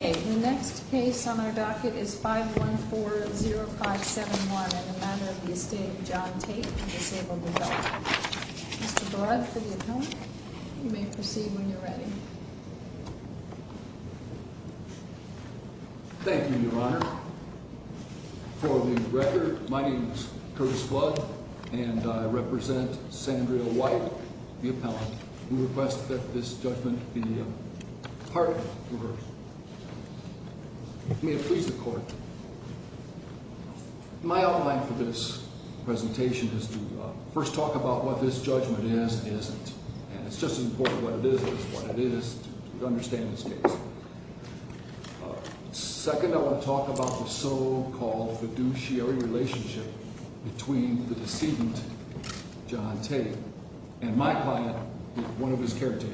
The next case on our docket is 514-0571 in the matter of the Estate of John Tate, a disabled adult. Mr. Brudd for the appellant. You may proceed when you're ready. Thank you, Your Honor. For the record, my name is Curtis Brudd, and I represent Sandra White, the appellant. We request that this judgment be pardoned. May it please the Court. My outline for this presentation is to first talk about what this judgment is and isn't. And it's just as important what it is as what it isn't to understand this case. Second, I want to talk about the so-called fiduciary relationship between the decedent, John Tate, and my client, one of his caretakers.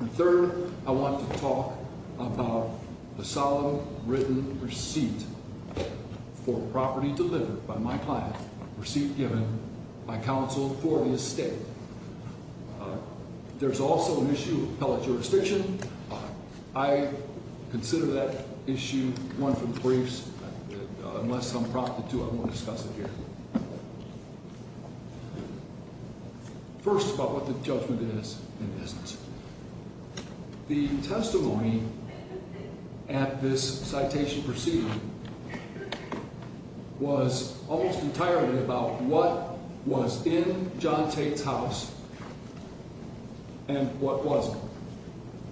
And third, I want to talk about the solemn written receipt for property delivered by my client, receipt given by counsel for the estate. There's also an issue of appellate jurisdiction. I consider that issue one for the briefs. Unless I'm prompted to, I won't discuss it here. First, about what the judgment is and isn't. The testimony at this citation proceeding was almost entirely about what was in John Tate's house and what wasn't.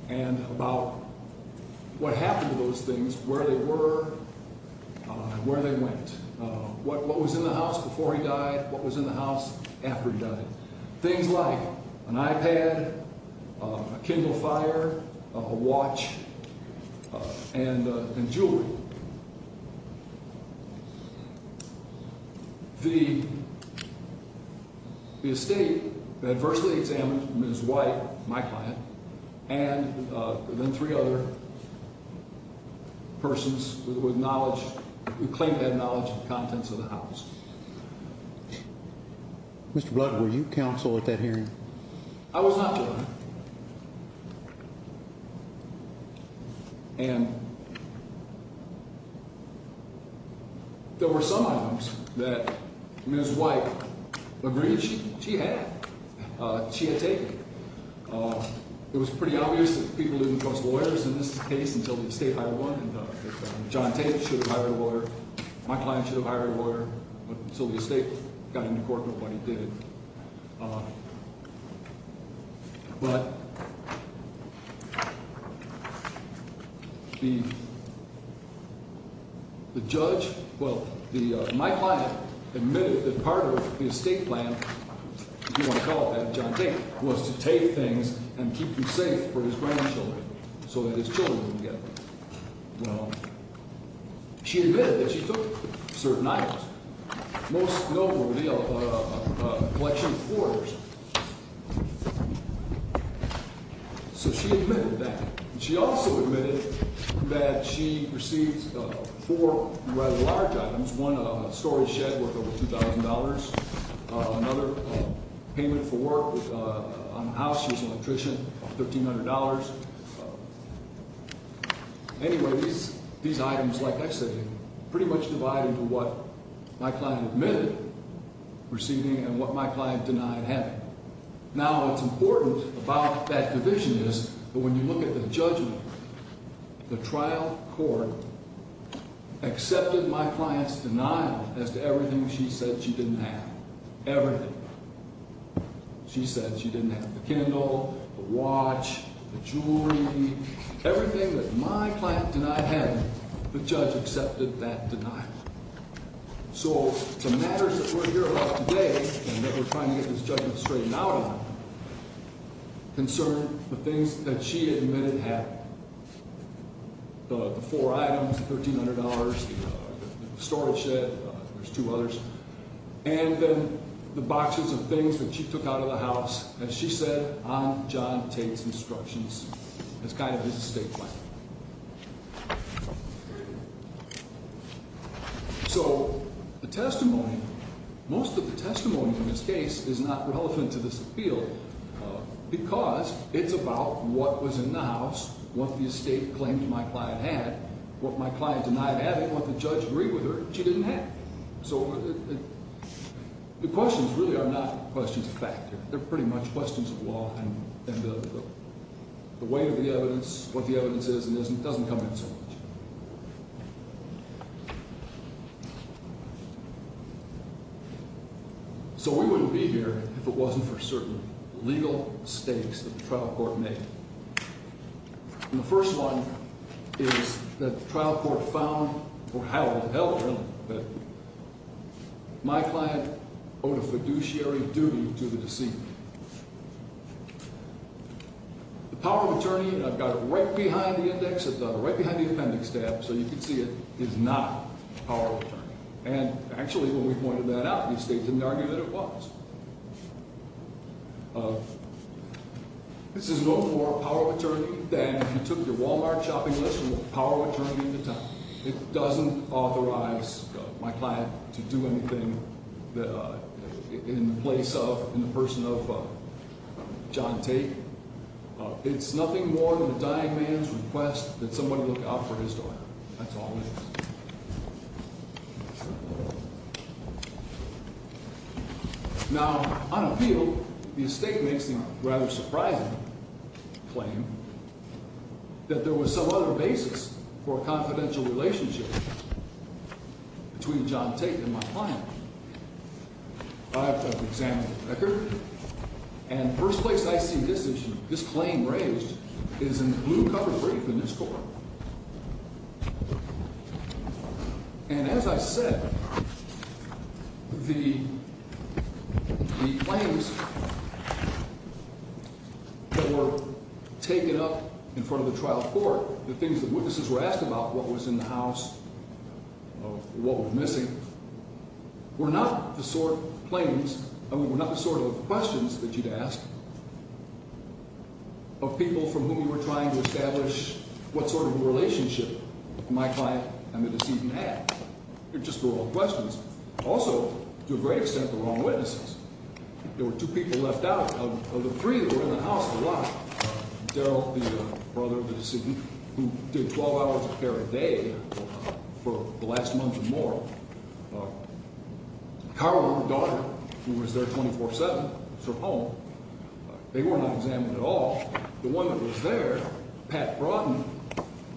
And about what happened to those things, where they were and where they went. What was in the house before he died, what was in the house after he died. Things like an iPad, a Kindle Fire, a watch, and jewelry. The estate adversely examined Ms. White, my client, and then three other persons who claimed to have knowledge of the contents of the house. Mr. Blood, were you counsel at that hearing? I was not, Your Honor. And there were some items that Ms. White agreed she had taken. It was pretty obvious that people didn't trust lawyers in this case until the estate hired one. And John Tate should have hired a lawyer. My client should have hired a lawyer. But until the estate got into court, nobody did. But the judge, well, my client admitted that part of his estate plan, if you want to call it that, John Tate, was to take things and keep them safe for his grandchildren so that his children wouldn't get them. She admitted that she took certain items, most notably a collection of quarters. So she admitted that. She also admitted that she received four rather large items, one a storage shed worth over $2,000, another payment for work on the house. She was an electrician, $1,300. Anyway, these items, like I said, pretty much divide into what my client admitted receiving and what my client denied having. Now, what's important about that division is that when you look at the judgment, the trial court accepted my client's denial as to everything she said she didn't have, everything. She said she didn't have the candle, the watch, the jewelry, everything that my client denied having, the judge accepted that denial. So the matters that we're here about today and that we're trying to get this judgment straightened out on concern the things that she admitted having, the four items, the $1,300, the storage shed, there's two others, and then the boxes of things that she took out of the house, as she said on John Tate's instructions, as kind of his estate plan. So the testimony, most of the testimony in this case is not relevant to this appeal because it's about what was in the house, what the estate claim to my client had, what my client denied having, what the judge agreed with her she didn't have. So the questions really are not questions of fact. They're pretty much questions of law, and the weight of the evidence, what the evidence is and isn't doesn't come in so much. So we wouldn't be here if it wasn't for certain legal stakes that the trial court made. And the first one is that the trial court found or held that my client owed a fiduciary duty to the deceiver. The power of attorney, and I've got it right behind the appendix tab so you can see it, is not a power of attorney. And actually, when we pointed that out, the estate didn't argue that it was. This is no more a power of attorney than if you took your Walmart shopping list from the power of attorney at the time. It doesn't authorize my client to do anything in the place of, in the person of John Tate. It's nothing more than a dying man's request that somebody look out for his daughter. That's all it is. Now, on appeal, the estate makes the rather surprising claim that there was some other basis for a confidential relationship between John Tate and my client. I've examined the record, and the first place I see this claim raised is in the blue cover brief in this court. And as I said, the claims that were taken up in front of the trial court, the things that witnesses were asked about, what was in the house, what was missing, were not the sort of questions that you'd ask of people from whom you were trying to establish what sort of relationship my client and the decedent had. They're just the wrong questions. Also, to a great extent, the wrong witnesses. There were two people left out of the three that were in the house to lie. Daryl, the brother of the decedent, who did 12 hours of care a day for the last month or more. Carla, her daughter, who was there 24-7 from home. They were not examined at all. The one that was there, Pat Brodden,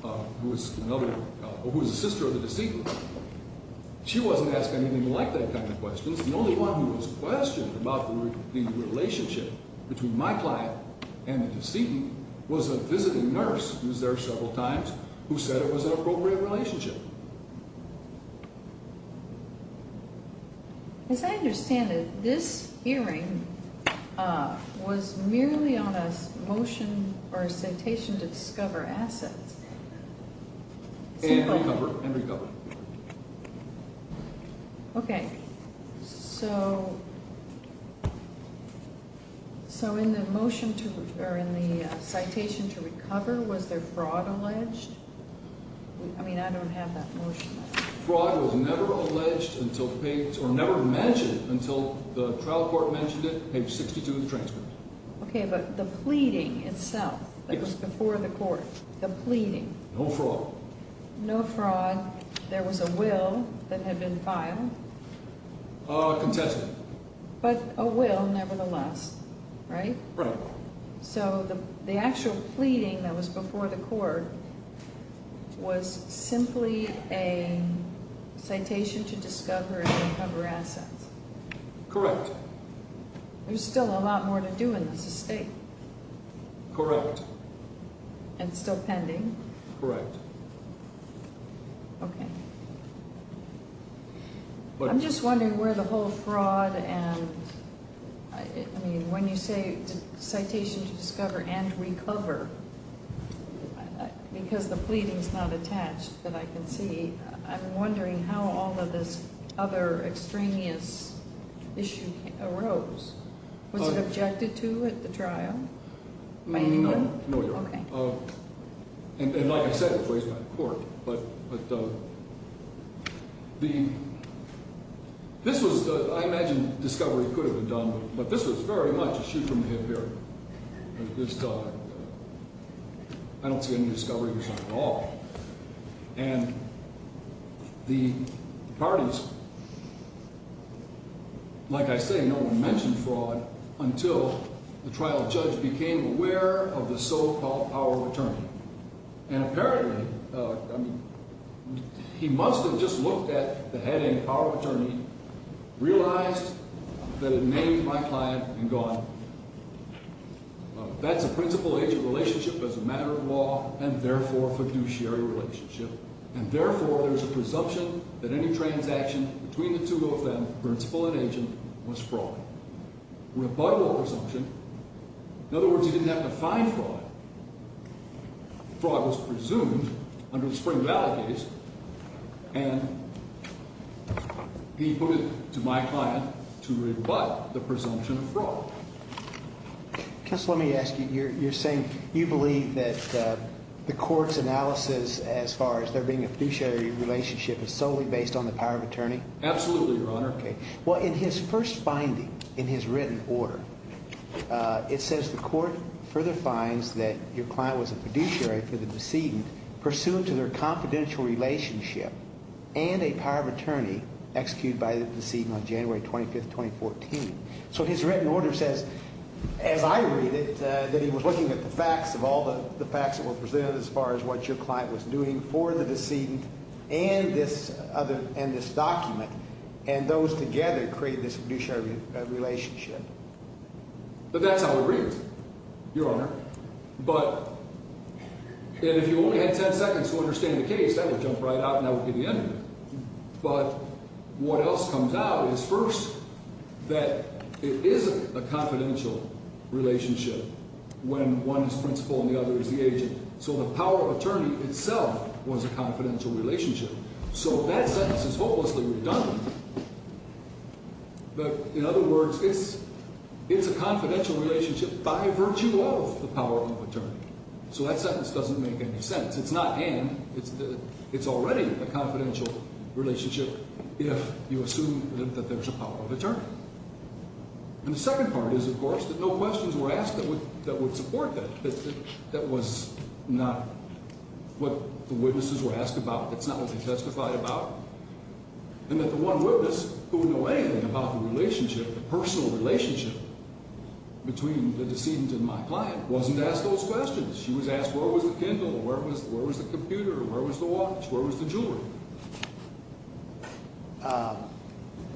who was another, who was the sister of the decedent. She wasn't asked anything like that kind of questions. The only one who was questioned about the relationship between my client and the decedent was a visiting nurse who was there several times who said it was an appropriate relationship. As I understand it, this hearing was merely on a motion or a citation to discover assets. And recover. And recover. Okay, so in the motion to, or in the citation to recover, was there fraud alleged? I mean, I don't have that motion. Fraud was never alleged until page, or never mentioned until the trial court mentioned it, page 62 of the transcript. Okay, but the pleading itself, that was before the court. The pleading. No fraud. No fraud. There was a will that had been filed. Consent. But a will nevertheless, right? Right. So the actual pleading that was before the court was simply a citation to discover and recover assets. Correct. There's still a lot more to do in this estate. Correct. And still pending. Correct. Okay. I'm just wondering where the whole fraud and, I mean, when you say citation to discover and recover, because the pleading's not attached that I can see, I'm wondering how all of this other extraneous issue arose. Was it objected to at the trial? No, Your Honor. Okay. And like I said, it was raised by the court. But the, this was, I imagine discovery could have been done, but this was very much a shoot from the hip area. This, I don't see any discovery here at all. And the parties, like I say, no one mentioned fraud until the trial judge became aware of the so-called power of attorney. And apparently, I mean, he must have just looked at the heading power of attorney, realized that it named my client, and gone. That's a principal-agent relationship as a matter of law and, therefore, a fiduciary relationship. And, therefore, there's a presumption that any transaction between the two of them, principal and agent, was fraud. Rebuttal presumption. In other words, he didn't have to find fraud. Fraud was presumed under the Spring Valley case. And he put it to my client to rebut the presumption of fraud. Counsel, let me ask you. You're saying you believe that the court's analysis as far as there being a fiduciary relationship is solely based on the power of attorney? Absolutely, Your Honor. Okay. Well, in his first finding in his written order, it says the court further finds that your client was a fiduciary for the decedent, pursuant to their confidential relationship and a power of attorney executed by the decedent on January 25th, 2014. So his written order says, as I read it, that he was looking at the facts of all the facts that were presented as far as what your client was doing for the decedent and this document, and those together create this fiduciary relationship. But that's how it reads, Your Honor. And if you only had ten seconds to understand the case, that would jump right out and that would be the end of it. But what else comes out is, first, that it isn't a confidential relationship when one is principal and the other is the agent. So the power of attorney itself was a confidential relationship. So that sentence is hopelessly redundant. But, in other words, it's a confidential relationship by virtue of the power of attorney. So that sentence doesn't make any sense. It's not and. It's already a confidential relationship if you assume that there's a power of attorney. And the second part is, of course, that no questions were asked that would support that. That was not what the witnesses were asked about. That's not what they testified about. And that the one witness who would know anything about the relationship, the personal relationship, between the decedent and my client wasn't asked those questions. She was asked where was the Kindle or where was the computer or where was the watch, where was the jewelry.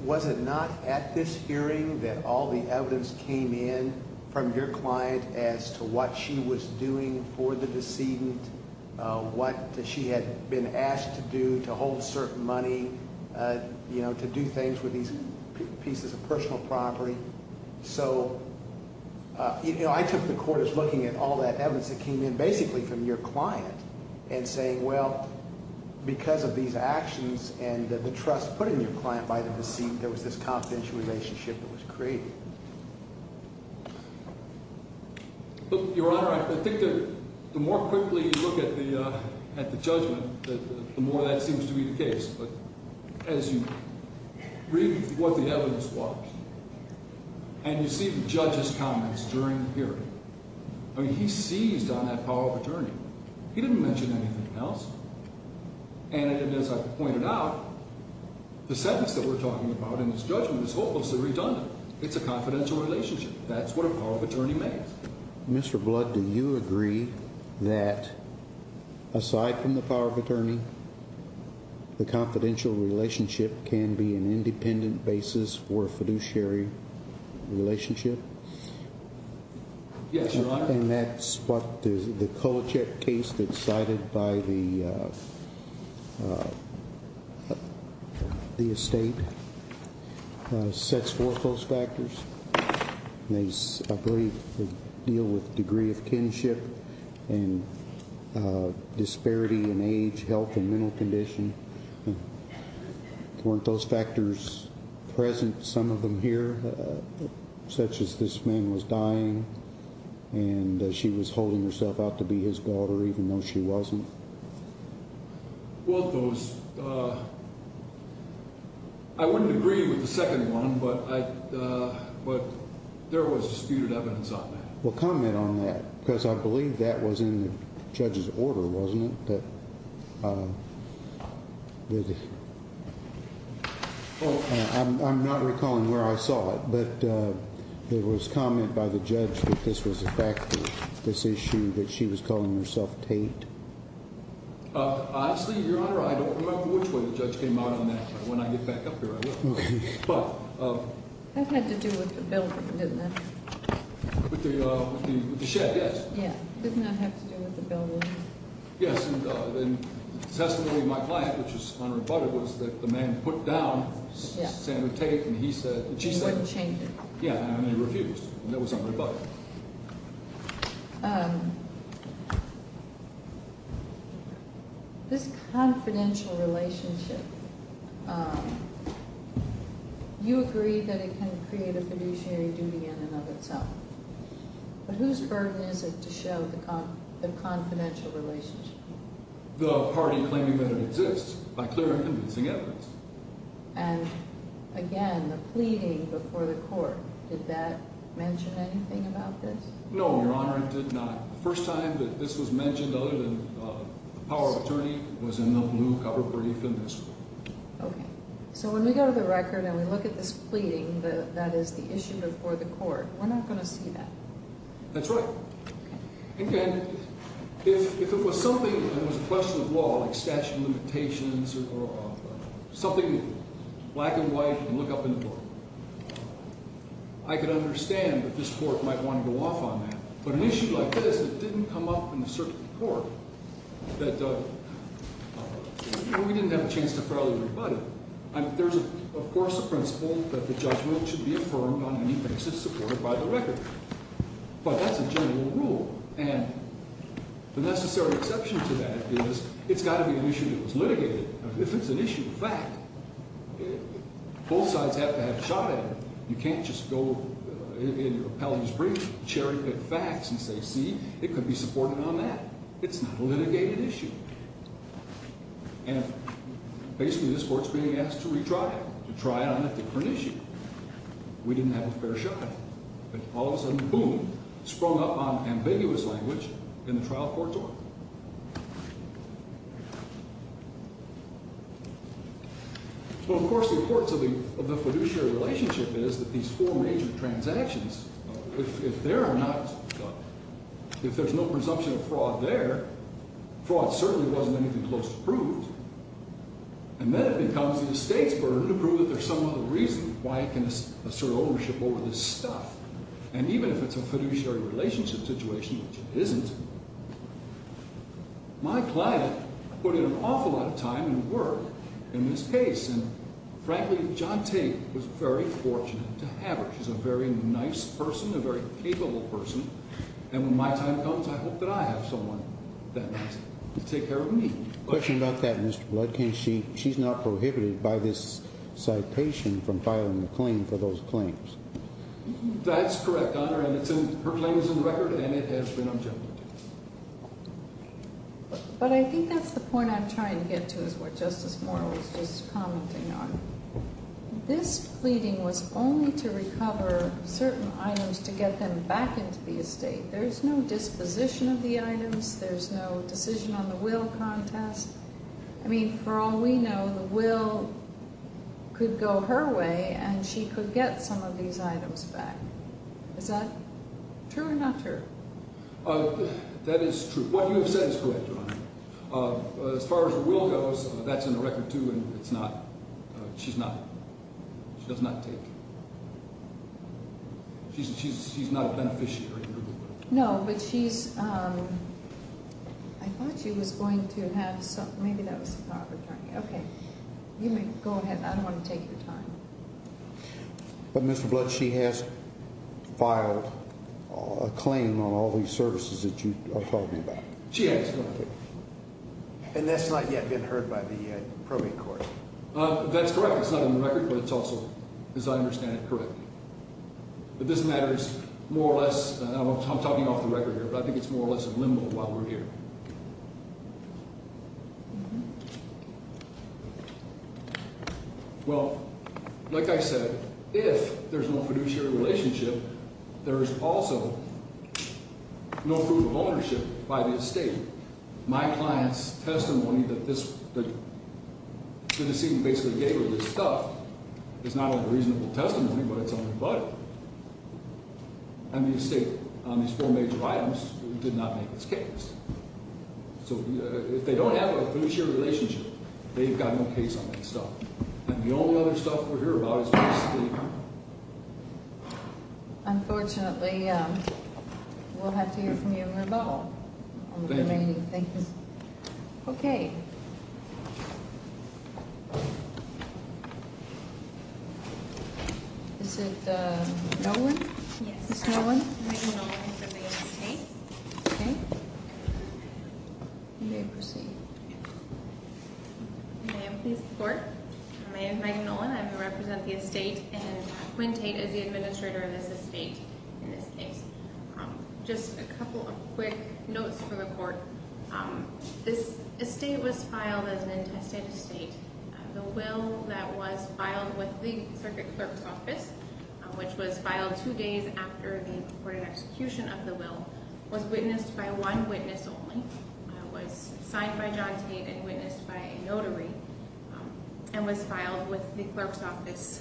Was it not at this hearing that all the evidence came in from your client as to what she was doing for the decedent, what she had been asked to do to hold certain money, to do things with these pieces of personal property? So I took the court as looking at all that evidence that came in basically from your client and saying, well, because of these actions and the trust put in your client by the decedent, there was this confidential relationship that was created. But, Your Honor, I think the more quickly you look at the judgment, the more that seems to be the case. But as you read what the evidence was and you see the judge's comments during the hearing, I mean, he seized on that power of attorney. He didn't mention anything else. And as I pointed out, the sentence that we're talking about in this judgment is hopelessly redundant. It's a confidential relationship. That's what a power of attorney means. Mr. Blood, do you agree that aside from the power of attorney, the confidential relationship can be an independent basis for a fiduciary relationship? Yes, Your Honor. And that's what the Kolachek case that's cited by the estate sets forth those factors. I believe they deal with degree of kinship and disparity in age, health, and mental condition. Weren't those factors present, some of them here, such as this man was dying and she was holding herself out to be his daughter even though she wasn't? Well, those – I wouldn't agree with the second one, but there was disputed evidence on that. Well, comment on that, because I believe that was in the judge's order, wasn't it? I'm not recalling where I saw it, but there was comment by the judge that this was a factor, this issue that she was calling herself Tate. Honestly, Your Honor, I don't remember which way the judge came out on that, but when I get back up here, I will. That had to do with the building, didn't it? With the shed, yes. Yeah, didn't that have to do with the building? Yes, and the testimony of my client, which was unrebutted, was that the man put down Sandra Tate and he said – And wouldn't change it. Yeah, and he refused, and that was unrebutted. So this confidential relationship, you agree that it can create a fiduciary duty in and of itself, but whose burden is it to show the confidential relationship? The party claiming that it exists by clear and convincing evidence. And again, the pleading before the court, did that mention anything about this? No, Your Honor, it did not. The first time that this was mentioned other than the power of attorney was in the blue cover brief in this court. Okay, so when we go to the record and we look at this pleading that is the issue before the court, we're not going to see that. That's right. Okay. Black and white, and look up in the book. I can understand that this court might want to go off on that, but an issue like this that didn't come up in the circuit court, that we didn't have a chance to fairly rebut it. There's of course a principle that the judgment should be affirmed on any basis supported by the record. But that's a general rule, and the necessary exception to that is it's got to be an issue that was litigated. If it's an issue of fact, both sides have to have a shot at it. You can't just go in your appellee's brief, cherry pick facts and say, see, it could be supported on that. It's not a litigated issue. And basically this court's being asked to retry it, to try it on a different issue. We didn't have a fair shot at it. But all of a sudden, boom, sprung up on ambiguous language in the trial court's order. So of course the importance of the fiduciary relationship is that these four major transactions, if there are not, if there's no presumption of fraud there, fraud certainly wasn't anything close to proved. And then it becomes the estate's burden to prove that there's some other reason why it can assert ownership over this stuff. And even if it's a fiduciary relationship situation, which it isn't, my client put in an awful lot of time and work in this case. And frankly, John Tate was very fortunate to have her. She's a very nice person, a very capable person. And when my time comes, I hope that I have someone that nice to take care of me. Question about that, Mr. Bloodkin. She's not prohibited by this citation from filing a claim for those claims. That's correct, Your Honor, and her claim is in the record and it has been objected to. But I think that's the point I'm trying to get to is what Justice Moore was just commenting on. This pleading was only to recover certain items to get them back into the estate. There's no disposition of the items. There's no decision on the will contest. I mean, for all we know, the will could go her way and she could get some of these items back. Is that true or not true? That is true. What you have said is correct, Your Honor. As far as the will goes, that's in the record, too, and it's not – she's not – she does not take – she's not a beneficiary. No, but she's – I thought she was going to have some – maybe that was the property attorney. Okay. You may go ahead. I don't want to take your time. But, Mr. Blood, she has filed a claim on all these services that you are talking about. She has, Your Honor. And that's not yet been heard by the probate court. That's correct. It's not in the record, but it's also, as I understand it, correct. But this matter is more or less – I'm talking off the record here, but I think it's more or less in limbo while we're here. Well, like I said, if there's no fiduciary relationship, there is also no proof of ownership by the estate. My client's testimony that this – the fiducy basically gave her this stuff is not only reasonable testimony, but it's only budget. And the estate, on these four major items, did not make this case. So if they don't have a fiduciary relationship, they've got no case on that stuff. And the only other stuff we'll hear about is the estate, Your Honor. Unfortunately, we'll have to hear from you, Your Honor. Thank you. Okay. Yes. Ms. Nolan? Megan Nolan, representing the estate. Okay. You may proceed. May I please report? My name is Megan Nolan. I represent the estate, and Quinn Tate is the administrator of this estate in this case. Just a couple of quick notes for the court. This estate was filed as an intestate estate. The will that was filed with the circuit clerk's office, which was filed two days after the recorded execution of the will, was witnessed by one witness only. It was signed by John Tate and witnessed by a notary and was filed with the clerk's office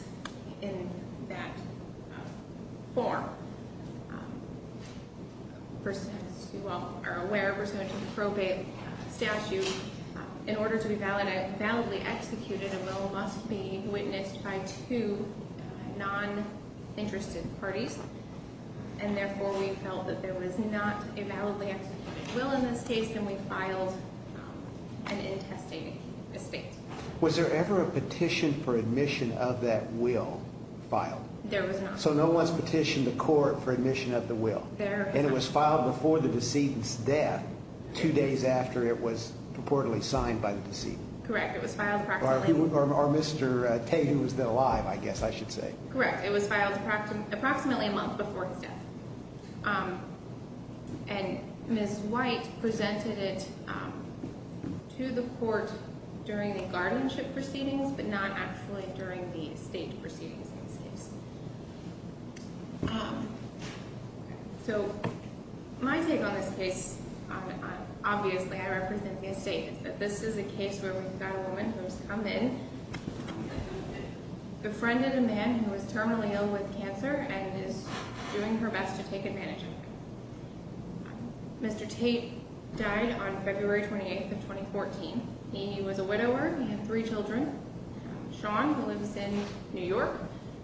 in that form. As you all are aware, we're subject to the probate statute. In order to be validly executed, a will must be witnessed by two non-interested parties. And therefore, we felt that there was not a validly executed will in this case, and we filed an intestate estate. Was there ever a petition for admission of that will filed? There was not. So no one's petitioned the court for admission of the will? There was not. And it was filed before the decedent's death, two days after it was purportedly signed by the decedent? Correct. It was filed approximately— Or Mr. Tate, who was then alive, I guess I should say. Correct. It was filed approximately a month before his death. And Ms. White presented it to the court during the guardianship proceedings, but not actually during the estate proceedings in this case. So my take on this case, obviously I represent the estate, but this is a case where we've got a woman who has come in, befriended a man who is terminally ill with cancer and is doing her best to take advantage of her. Mr. Tate died on February 28th of 2014. He was a widower. He had three children. Sean, who lives in New York.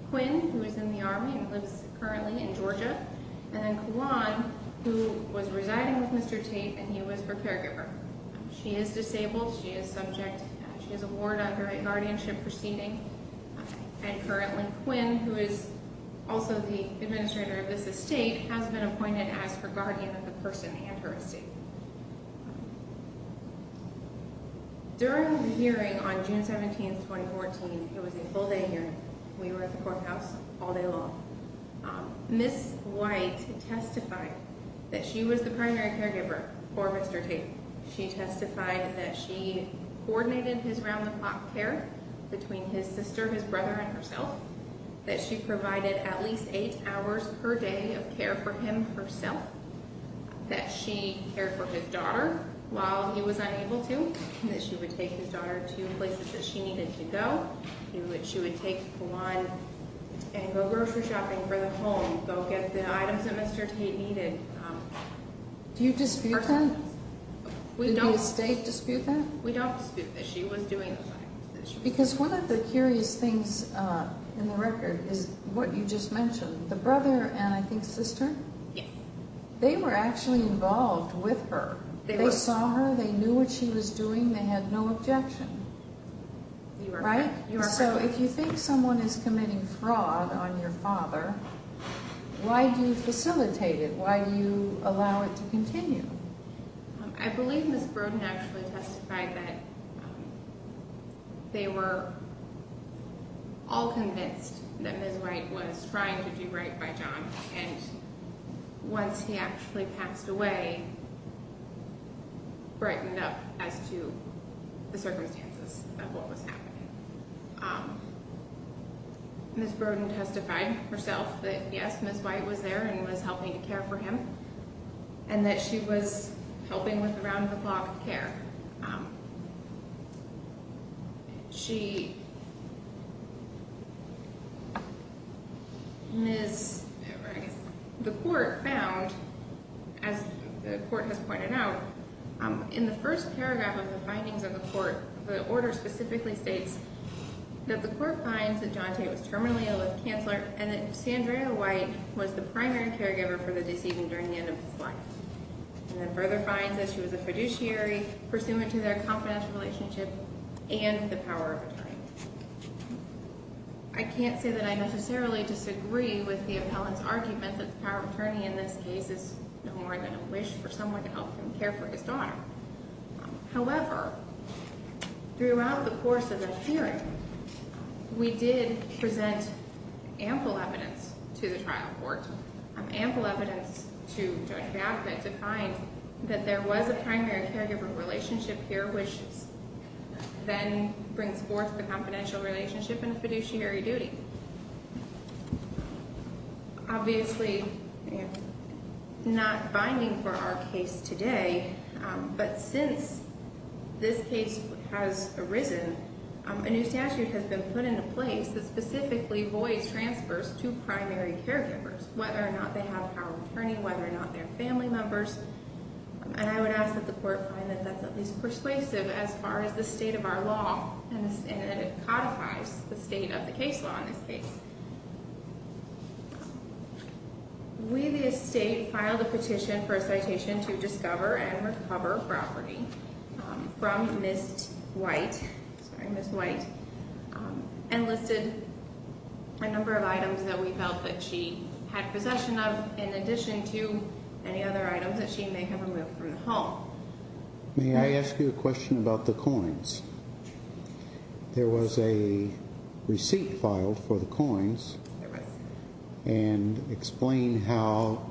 Quinn, who is in the Army and lives currently in Georgia. And then Kalon, who was residing with Mr. Tate and he was her caregiver. She is disabled. She is subject—she is a ward under a guardianship proceeding. And currently, Quinn, who is also the administrator of this estate, has been appointed as her guardian of the person and her estate. During the hearing on June 17th, 2014, it was a full-day hearing. We were at the courthouse all day long. Ms. White testified that she was the primary caregiver for Mr. Tate. She testified that she coordinated his round-the-clock care between his sister, his brother, and herself. That she provided at least eight hours per day of care for him herself. That she cared for his daughter while he was unable to. That she would take his daughter to places that she needed to go. She would take Kalon and go grocery shopping for the home. Go get the items that Mr. Tate needed. Do you dispute that? Did the estate dispute that? We don't dispute that she was doing those items. Because one of the curious things in the record is what you just mentioned. The brother and, I think, sister? Yes. They were actually involved with her. They saw her. They knew what she was doing. They had no objection. You are correct. So if you think someone is committing fraud on your father, why do you facilitate it? Why do you allow it to continue? I believe Ms. Brodin actually testified that they were all convinced that Ms. White was trying to do right by John. Once he actually passed away, it brightened up as to the circumstances of what was happening. Ms. Brodin testified herself that yes, Ms. White was there and was helping to care for him. And that she was helping with the round-the-clock care. The court found, as the court has pointed out, in the first paragraph of the findings of the court, the order specifically states that the court finds that John Tate was terminally ill with cancer and that Sandra White was the primary caregiver for the deceased during the end of his life. And then further finds that she was a fiduciary pursuant to their confidential relationship and the power of attorney. I can't say that I necessarily disagree with the appellant's argument that the power of attorney in this case is no more than a wish for someone to help him care for his daughter. However, throughout the course of this hearing, we did present ample evidence to the trial court. Ample evidence to Judge Baffitt to find that there was a primary caregiver relationship here which then brings forth the confidential relationship and fiduciary duty. Obviously, not binding for our case today, but since this case has arisen, a new statute has been put into place that specifically voids transfers to primary caregivers. Whether or not they have power of attorney, whether or not they're family members. And I would ask that the court find that that's at least persuasive as far as the state of our law and that it codifies the state of the case law in this case. We the estate filed a petition for a citation to discover and recover property from Ms. White. Sorry, Ms. White. And listed a number of items that we felt that she had possession of in addition to any other items that she may have removed from the home. May I ask you a question about the coins? There was a receipt filed for the coins. There was. And explain how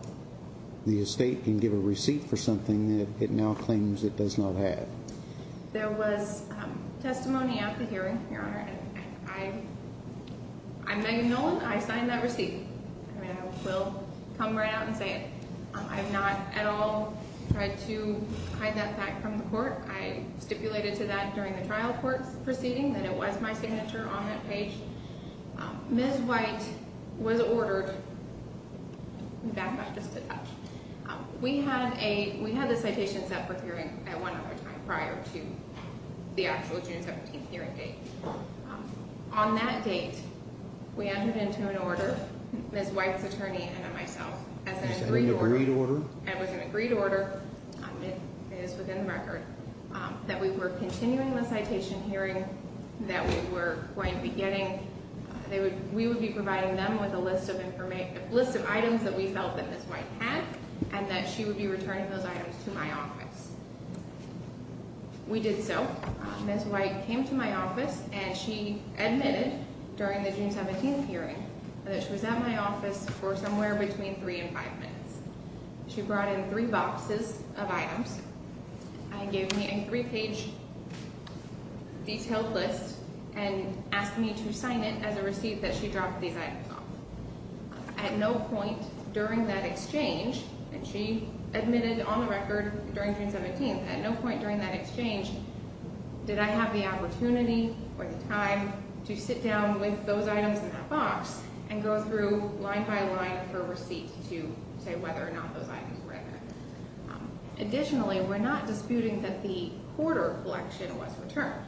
the estate can give a receipt for something that it now claims it does not have. There was testimony at the hearing, Your Honor. I'm Megan Nolan. I signed that receipt. I will come right out and say it. I've not at all tried to hide that fact from the court. I stipulated to that during the trial court's proceeding that it was my signature on that page. Ms. White was ordered. Back up just a touch. We had a, we had the citation separate hearing at one other time prior to the actual June 17th hearing date. On that date, we entered into an order, Ms. White's attorney and myself, as an agreed order. It was an agreed order. It is within the record. That we were continuing the citation hearing that we were going to be getting. We would be providing them with a list of items that we felt that Ms. White had. And that she would be returning those items to my office. We did so. Ms. White came to my office and she admitted during the June 17th hearing that she was at my office for somewhere between three and five minutes. She brought in three boxes of items. And gave me a three page detailed list and asked me to sign it as a receipt that she dropped these items off. At no point during that exchange, and she admitted on the record during June 17th, at no point during that exchange did I have the opportunity or the time to sit down with those items in that box. And go through line by line for a receipt to say whether or not those items were in there. Additionally, we're not disputing that the quarter collection was returned.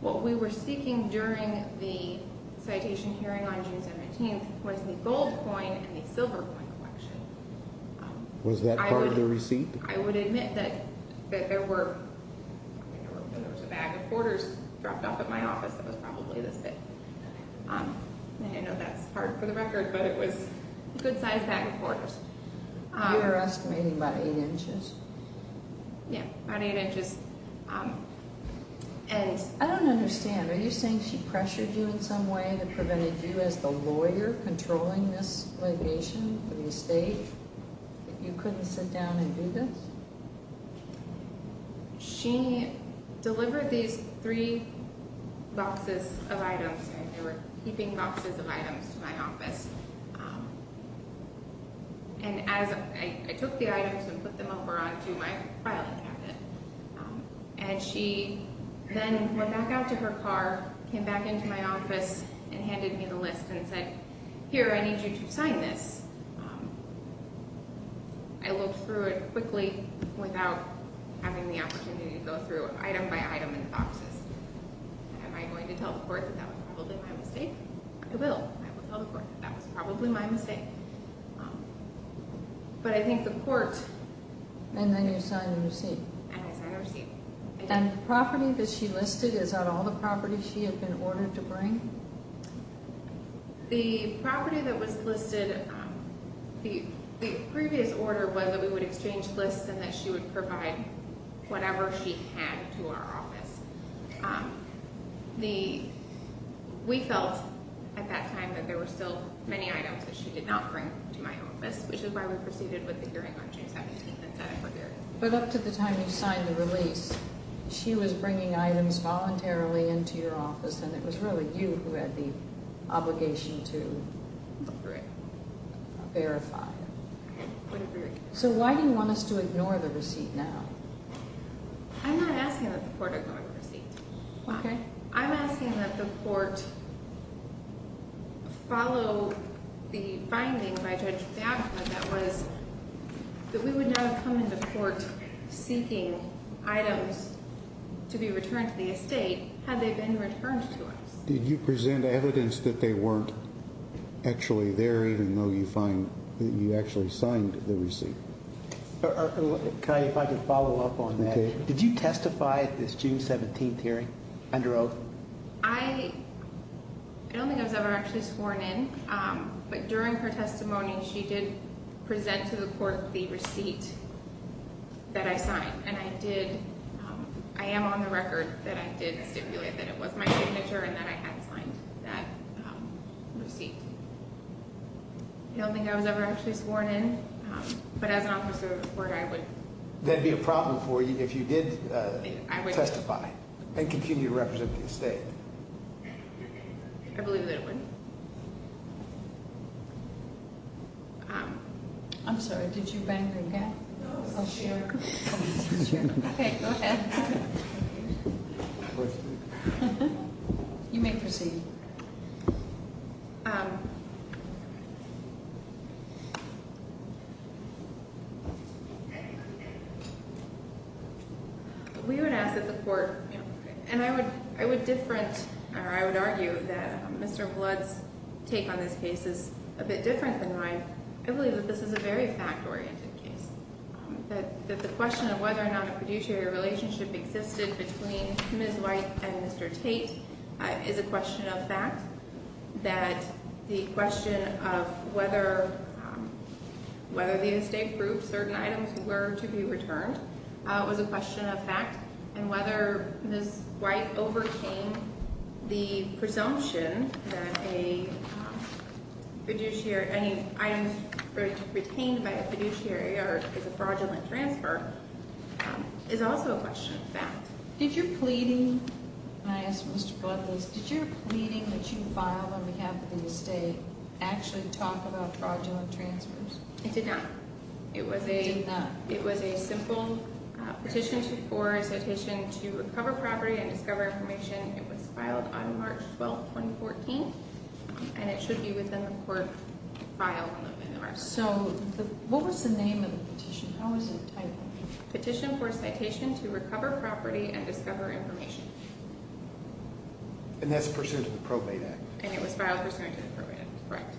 What we were seeking during the citation hearing on June 17th was the gold coin and the silver coin collection. Was that part of the receipt? I would admit that there were, there was a bag of quarters dropped off at my office that was probably this big. I know that's hard for the record, but it was a good sized bag of quarters. You're estimating about eight inches? Yeah, about eight inches. And I don't understand, are you saying she pressured you in some way that prevented you as the lawyer controlling this litigation for the estate? That you couldn't sit down and do this? She delivered these three boxes of items and they were heaping boxes of items to my office. And as I took the items and put them over onto my filing cabinet. And she then went back out to her car, came back into my office and handed me the list and said, here I need you to sign this. I looked through it quickly without having the opportunity to go through item by item in the boxes. Am I going to tell the court that that was probably my mistake? I will, I will tell the court that that was probably my mistake. But I think the court... And then you signed the receipt. And I signed the receipt. And the property that she listed, is that all the property she had been ordered to bring? The property that was listed, the previous order was that we would exchange lists and that she would provide whatever she had to our office. We felt at that time that there were still many items that she did not bring to my office. Which is why we proceeded with the hearing on June 17th and set up a hearing. But up to the time you signed the release, she was bringing items voluntarily into your office. And it was really you who had the obligation to... Look through it. Verify it. So why do you want us to ignore the receipt now? I'm not asking that the court ignore the receipt. Why? I'm asking that the court follow the finding by Judge Fabka that was... That we would not have come into court seeking items to be returned to the estate had they been returned to us. Did you present evidence that they weren't actually there even though you actually signed the receipt? Connie, if I could follow up on that. Did you testify at this June 17th hearing under oath? I don't think I was ever actually sworn in. But during her testimony, she did present to the court the receipt that I signed. And I did... I am on the record that I did stipulate that it was my signature and that I had signed that receipt. I don't think I was ever actually sworn in. But as an officer of the court, I would... That would be a problem for you if you did testify and continue to represent the estate. I believe that it would. I'm sorry, did you bang the gap? No. Oh, sure. Okay, go ahead. You may proceed. Thank you. We would ask that the court... And I would different, or I would argue that Mr. Blood's take on this case is a bit different than mine. I believe that this is a very fact-oriented case. That the question of whether or not a fiduciary relationship existed between Ms. White and Mr. Tate is a question of fact. That the question of whether the estate approved certain items were to be returned was a question of fact. And whether Ms. White overcame the presumption that a fiduciary... Any items retained by a fiduciary is a fraudulent transfer is also a question of fact. Did your pleading... And I asked Mr. Blood this. Did your pleading that you filed on behalf of the estate actually talk about fraudulent transfers? It did not. It was a... It did not. It was a simple petition for a citation to recover property and discover information. It was filed on March 12, 2014. And it should be within the court file. So, what was the name of the petition? How was it titled? Petition for a citation to recover property and discover information. And that's pursuant to the Probate Act. And it was filed pursuant to the Probate Act. Correct.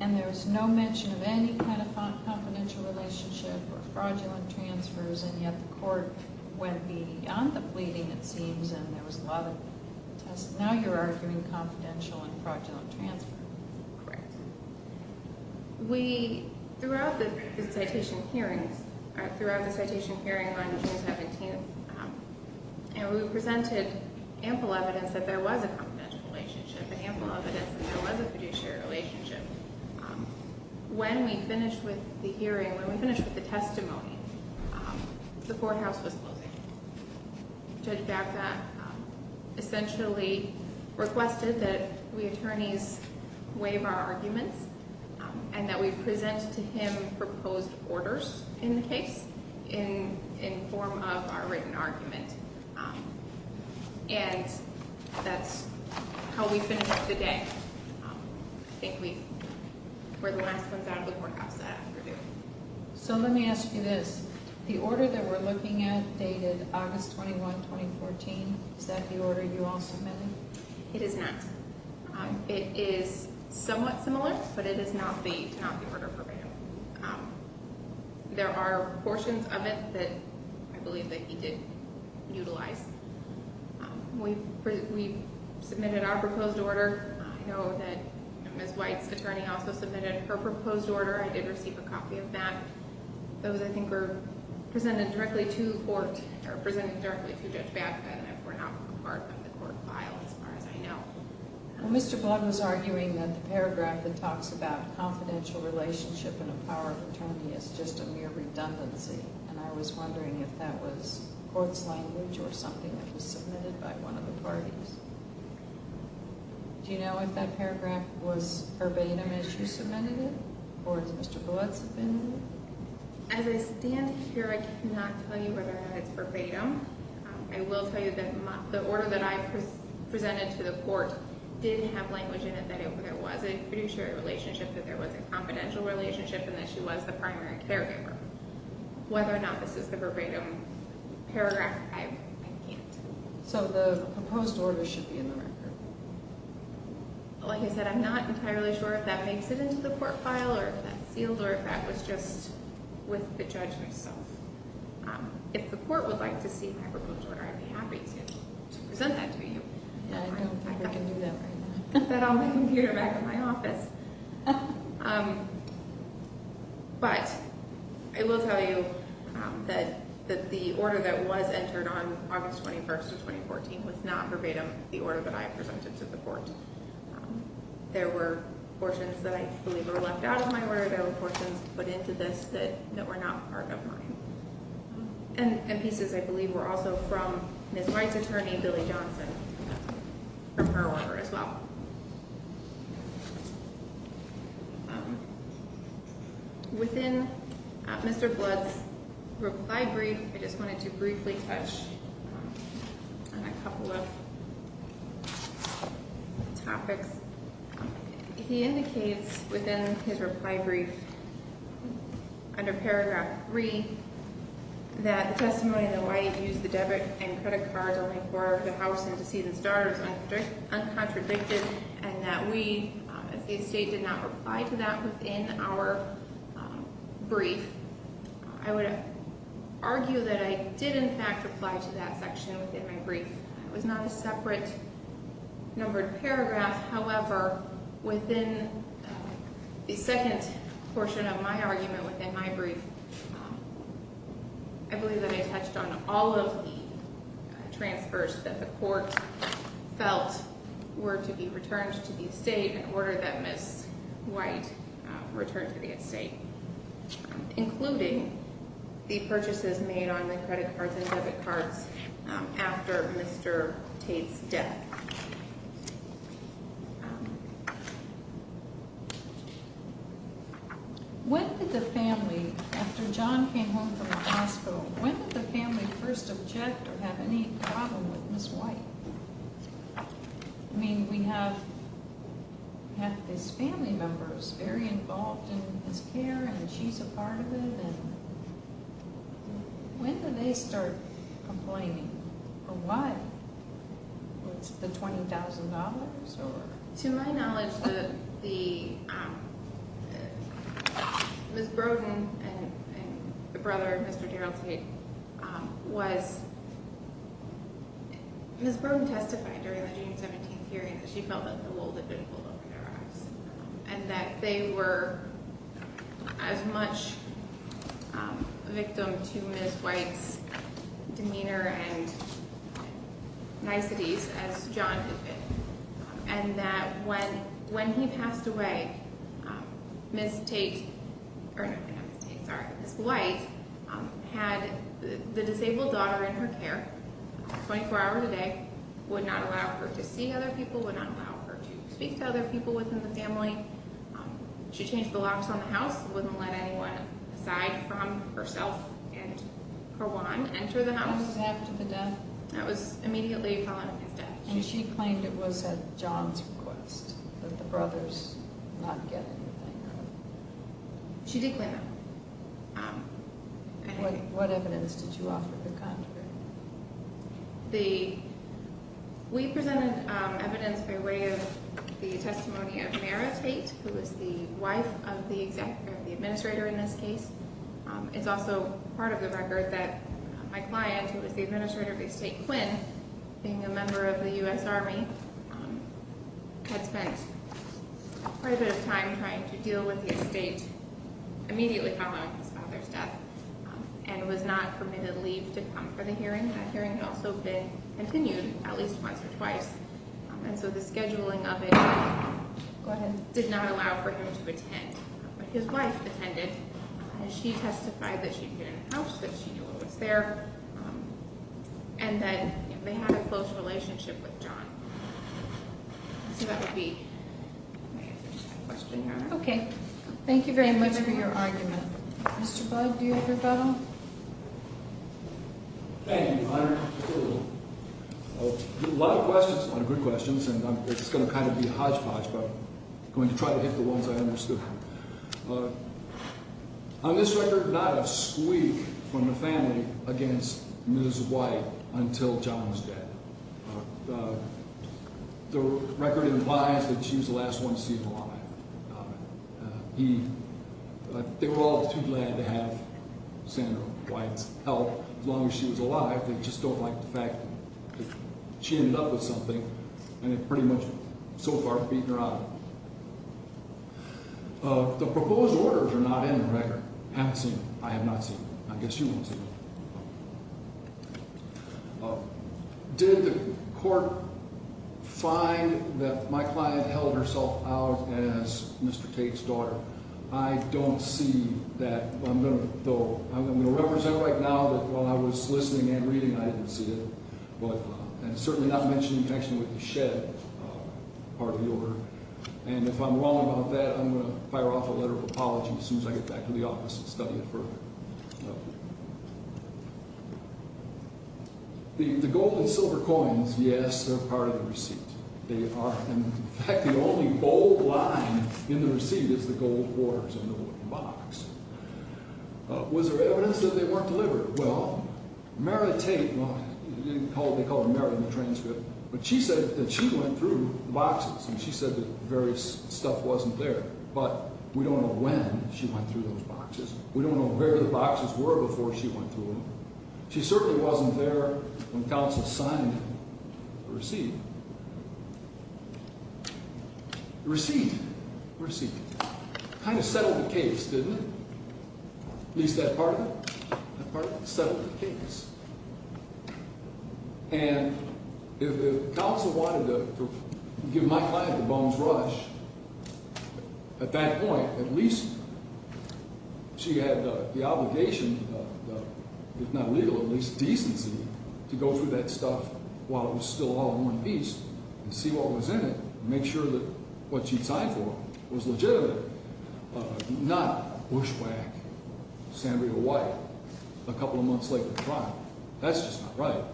And there was no mention of any kind of confidential relationship or fraudulent transfers, and yet the court went beyond the pleading, it seems, and there was a lot of... Now you're arguing confidential and fraudulent transfer. Correct. We, throughout the citation hearings, throughout the citation hearing on June 17th, and we presented ample evidence that there was a confidential relationship and ample evidence that there was a fiduciary relationship. When we finished with the hearing, when we finished with the testimony, the courthouse was closing. Judge Baca essentially requested that we attorneys waive our arguments and that we present to him proposed orders in the case in form of our written argument. And that's how we finished the day. I think we were the last ones out of the courthouse that afternoon. So let me ask you this. The order that we're looking at dated August 21, 2014. Is that the order you all submitted? It is not. It is somewhat similar, but it is not the Tanaki murder probate order. There are portions of it that I believe that he did utilize. We submitted our proposed order. I know that Ms. White's attorney also submitted her proposed order. I did receive a copy of that. Those, I think, were presented directly to court, or presented directly to Judge Baca. I don't know if we're now part of the court file as far as I know. Mr. Blunt was arguing that the paragraph that talks about confidential relationship and a power of attorney is just a mere redundancy. And I was wondering if that was court's language or something that was submitted by one of the parties. Do you know if that paragraph was urbanum as you submitted it? Or did Mr. Blunt submit it? As I stand here, I cannot tell you whether or not it's urbanum. I will tell you that the order that I presented to the court did have language in it that there was a fiduciary relationship, that there was a confidential relationship, and that she was the primary caregiver. Whether or not this is the urbanum paragraph, I can't. So the proposed order should be in the record. Like I said, I'm not entirely sure if that makes it into the court file or if that's sealed or if that was just with the judge herself. If the court would like to see my proposed order, I'd be happy to present that to you. I don't think I can do that right now. I've got that on the computer back in my office. But I will tell you that the order that was entered on August 21st of 2014 was not verbatim the order that I presented to the court. There were portions that I believe were left out of my order. There were portions put into this that were not part of mine. And pieces I believe were also from Ms. White's attorney, Billy Johnson, from her order as well. Within Mr. Blood's reply brief, I just wanted to briefly touch on a couple of topics. He indicates within his reply brief, under paragraph 3, that testimony in the White used the debit and credit cards only for the house and to see the stars, uncontradicted, and that we, as the estate, did not reply to that within our brief. I would argue that I did, in fact, reply to that section within my brief. It was not a separate numbered paragraph. However, within the second portion of my argument within my brief, I believe that I touched on all of the transfers that the court felt were to be returned to the estate in order that Ms. White returned to the estate, including the purchases made on the credit cards and debit cards after Mr. Tate's death. When did the family, after John came home from the hospital, when did the family first object or have any problem with Ms. White? I mean, we have had his family members very involved in his care, and she's a part of it. When did they start complaining? For what? Was it the $20,000? To my knowledge, Ms. Brodin and her brother, Mr. Darrell Tate, Ms. Brodin testified during the June 17th hearing that she felt that the world had been pulled over their eyes and that they were as much a victim to Ms. White's demeanor and niceties as John had been, and that when he passed away, Ms. White had the disabled daughter in her care 24 hours a day, would not allow her to see other people, would not allow her to speak to other people within the family. She changed the locks on the house, wouldn't let anyone aside from herself and her wand enter the house. What happened after the death? That was immediately following his death. And she claimed it was at John's request that the brothers not get anything done. She did claim that. What evidence did you offer the contrary? We presented evidence by way of the testimony of Mara Tate, who was the wife of the administrator in this case. It's also part of the record that my client, who was the administrator of Estate Quinn, being a member of the U.S. Army, had spent quite a bit of time trying to deal with the estate immediately following his father's death and was not permitted leave to come for the hearing. That hearing had also been continued at least once or twice, and so the scheduling of it did not allow for him to attend. But his wife attended, and she testified that she'd been in the house, that she knew what was there, and that they had a close relationship with John. So that would be my answer to that question, Your Honor. Okay. Thank you very much for your argument. Mr. Bug, do you have your battle? Thank you, Your Honor. A lot of questions, a lot of good questions, and it's going to kind of be hodgepodge, but I'm going to try to hit the ones I understood. On this record, not a squeak from the family against Ms. White until John was dead. The record implies that she was the last one seen alive. They were all too glad to have Sandra White's help. As long as she was alive, they just don't like the fact that she ended up with something and it pretty much so far beaten her out of it. The proposed orders are not in the record. Have seen them. I have not seen them. I guess you won't see them. Did the court find that my client held herself out as Mr. Tate's daughter? I don't see that. I'm going to represent right now that while I was listening and reading, I didn't see it, and certainly not mention the connection with the shed part of the order. And if I'm wrong about that, I'm going to fire off a letter of apology as soon as I get back to the office and study it further. The gold and silver coins, yes, they're part of the receipt. In fact, the only bold line in the receipt is the gold quarters in the box. Was there evidence that they weren't delivered? Well, Mary Tate, they call her Mary in the transcript, but she said that she went through the boxes and she said that various stuff wasn't there, but we don't know when she went through those boxes. We don't know where the boxes were before she went through them. She certainly wasn't there when counsel signed the receipt. The receipt kind of settled the case, didn't it? At least that part of it. That part of it settled the case. And if counsel wanted to give my client the bones rush, at that point, at least she had the obligation, if not legal, at least decency, to go through that stuff while it was still all in one piece and see what was in it and make sure that what she signed for was legitimately not bushwhack, not San Diego White, a couple of months late to trial. That's just not right.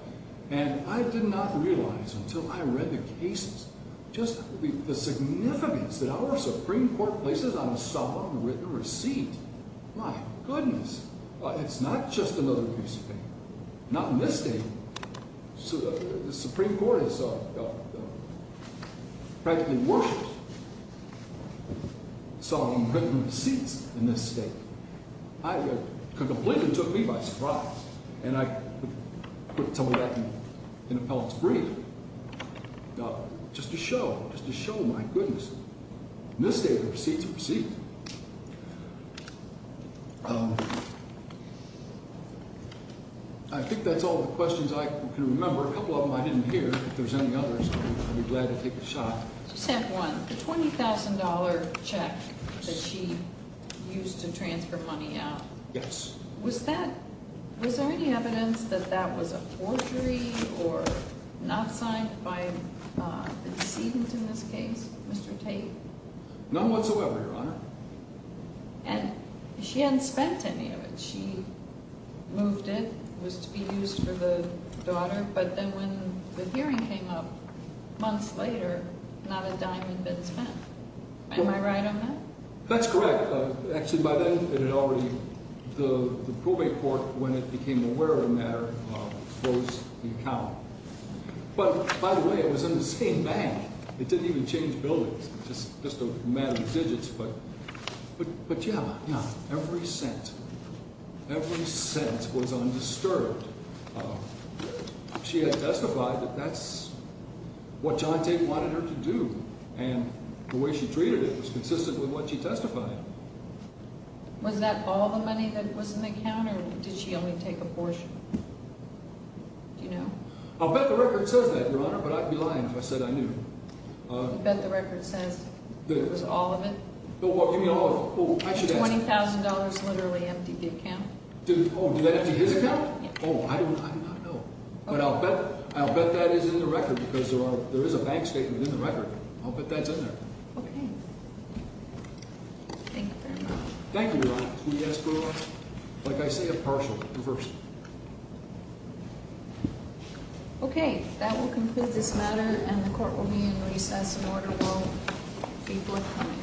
And I did not realize until I read the cases just the significance that our Supreme Court places on a solemn written receipt. My goodness. It's not just another piece of paper. Not in this state. The Supreme Court has practically worshiped solemn written receipts in this state. It completely took me by surprise. And I put some of that in appellate's brief just to show, just to show my goodness. In this state, receipts are receipts. I think that's all the questions I can remember. A couple of them I didn't hear. If there's any others, I'd be glad to take a shot. Just have one. The $20,000 check that she used to transfer money out. Yes. Was that, was there any evidence that that was a forgery or not signed by the decedent in this case, Mr. Tate? None whatsoever, Your Honor. And she hadn't spent any of it. She moved it. It was to be used for the daughter. But then when the hearing came up months later, not a dime had been spent. Am I right on that? That's correct. Actually, by then it had already, the probate court, when it became aware of the matter, closed the account. But, by the way, it was in the same bank. It didn't even change buildings. Just a matter of digits. But, yeah, every cent. Every cent was undisturbed. She had testified that that's what John Tate wanted her to do. And the way she treated it was consistent with what she testified. Was that all the money that was in the account or did she only take a portion? Do you know? I'll bet the record says that, Your Honor, but I'd be lying if I said I knew. You bet the record says it was all of it? Give me all of it. $20,000 literally emptied the account? Oh, did I empty his account? Oh, I don't know. But I'll bet that is in the record because there is a bank statement in the record. I'll bet that's in there. Okay. Thank you very much. Thank you, Your Honor. Can we ask for, like I say, a partial reversal? Okay. That will conclude this matter, and the court will be in recess. The order will be forthcoming.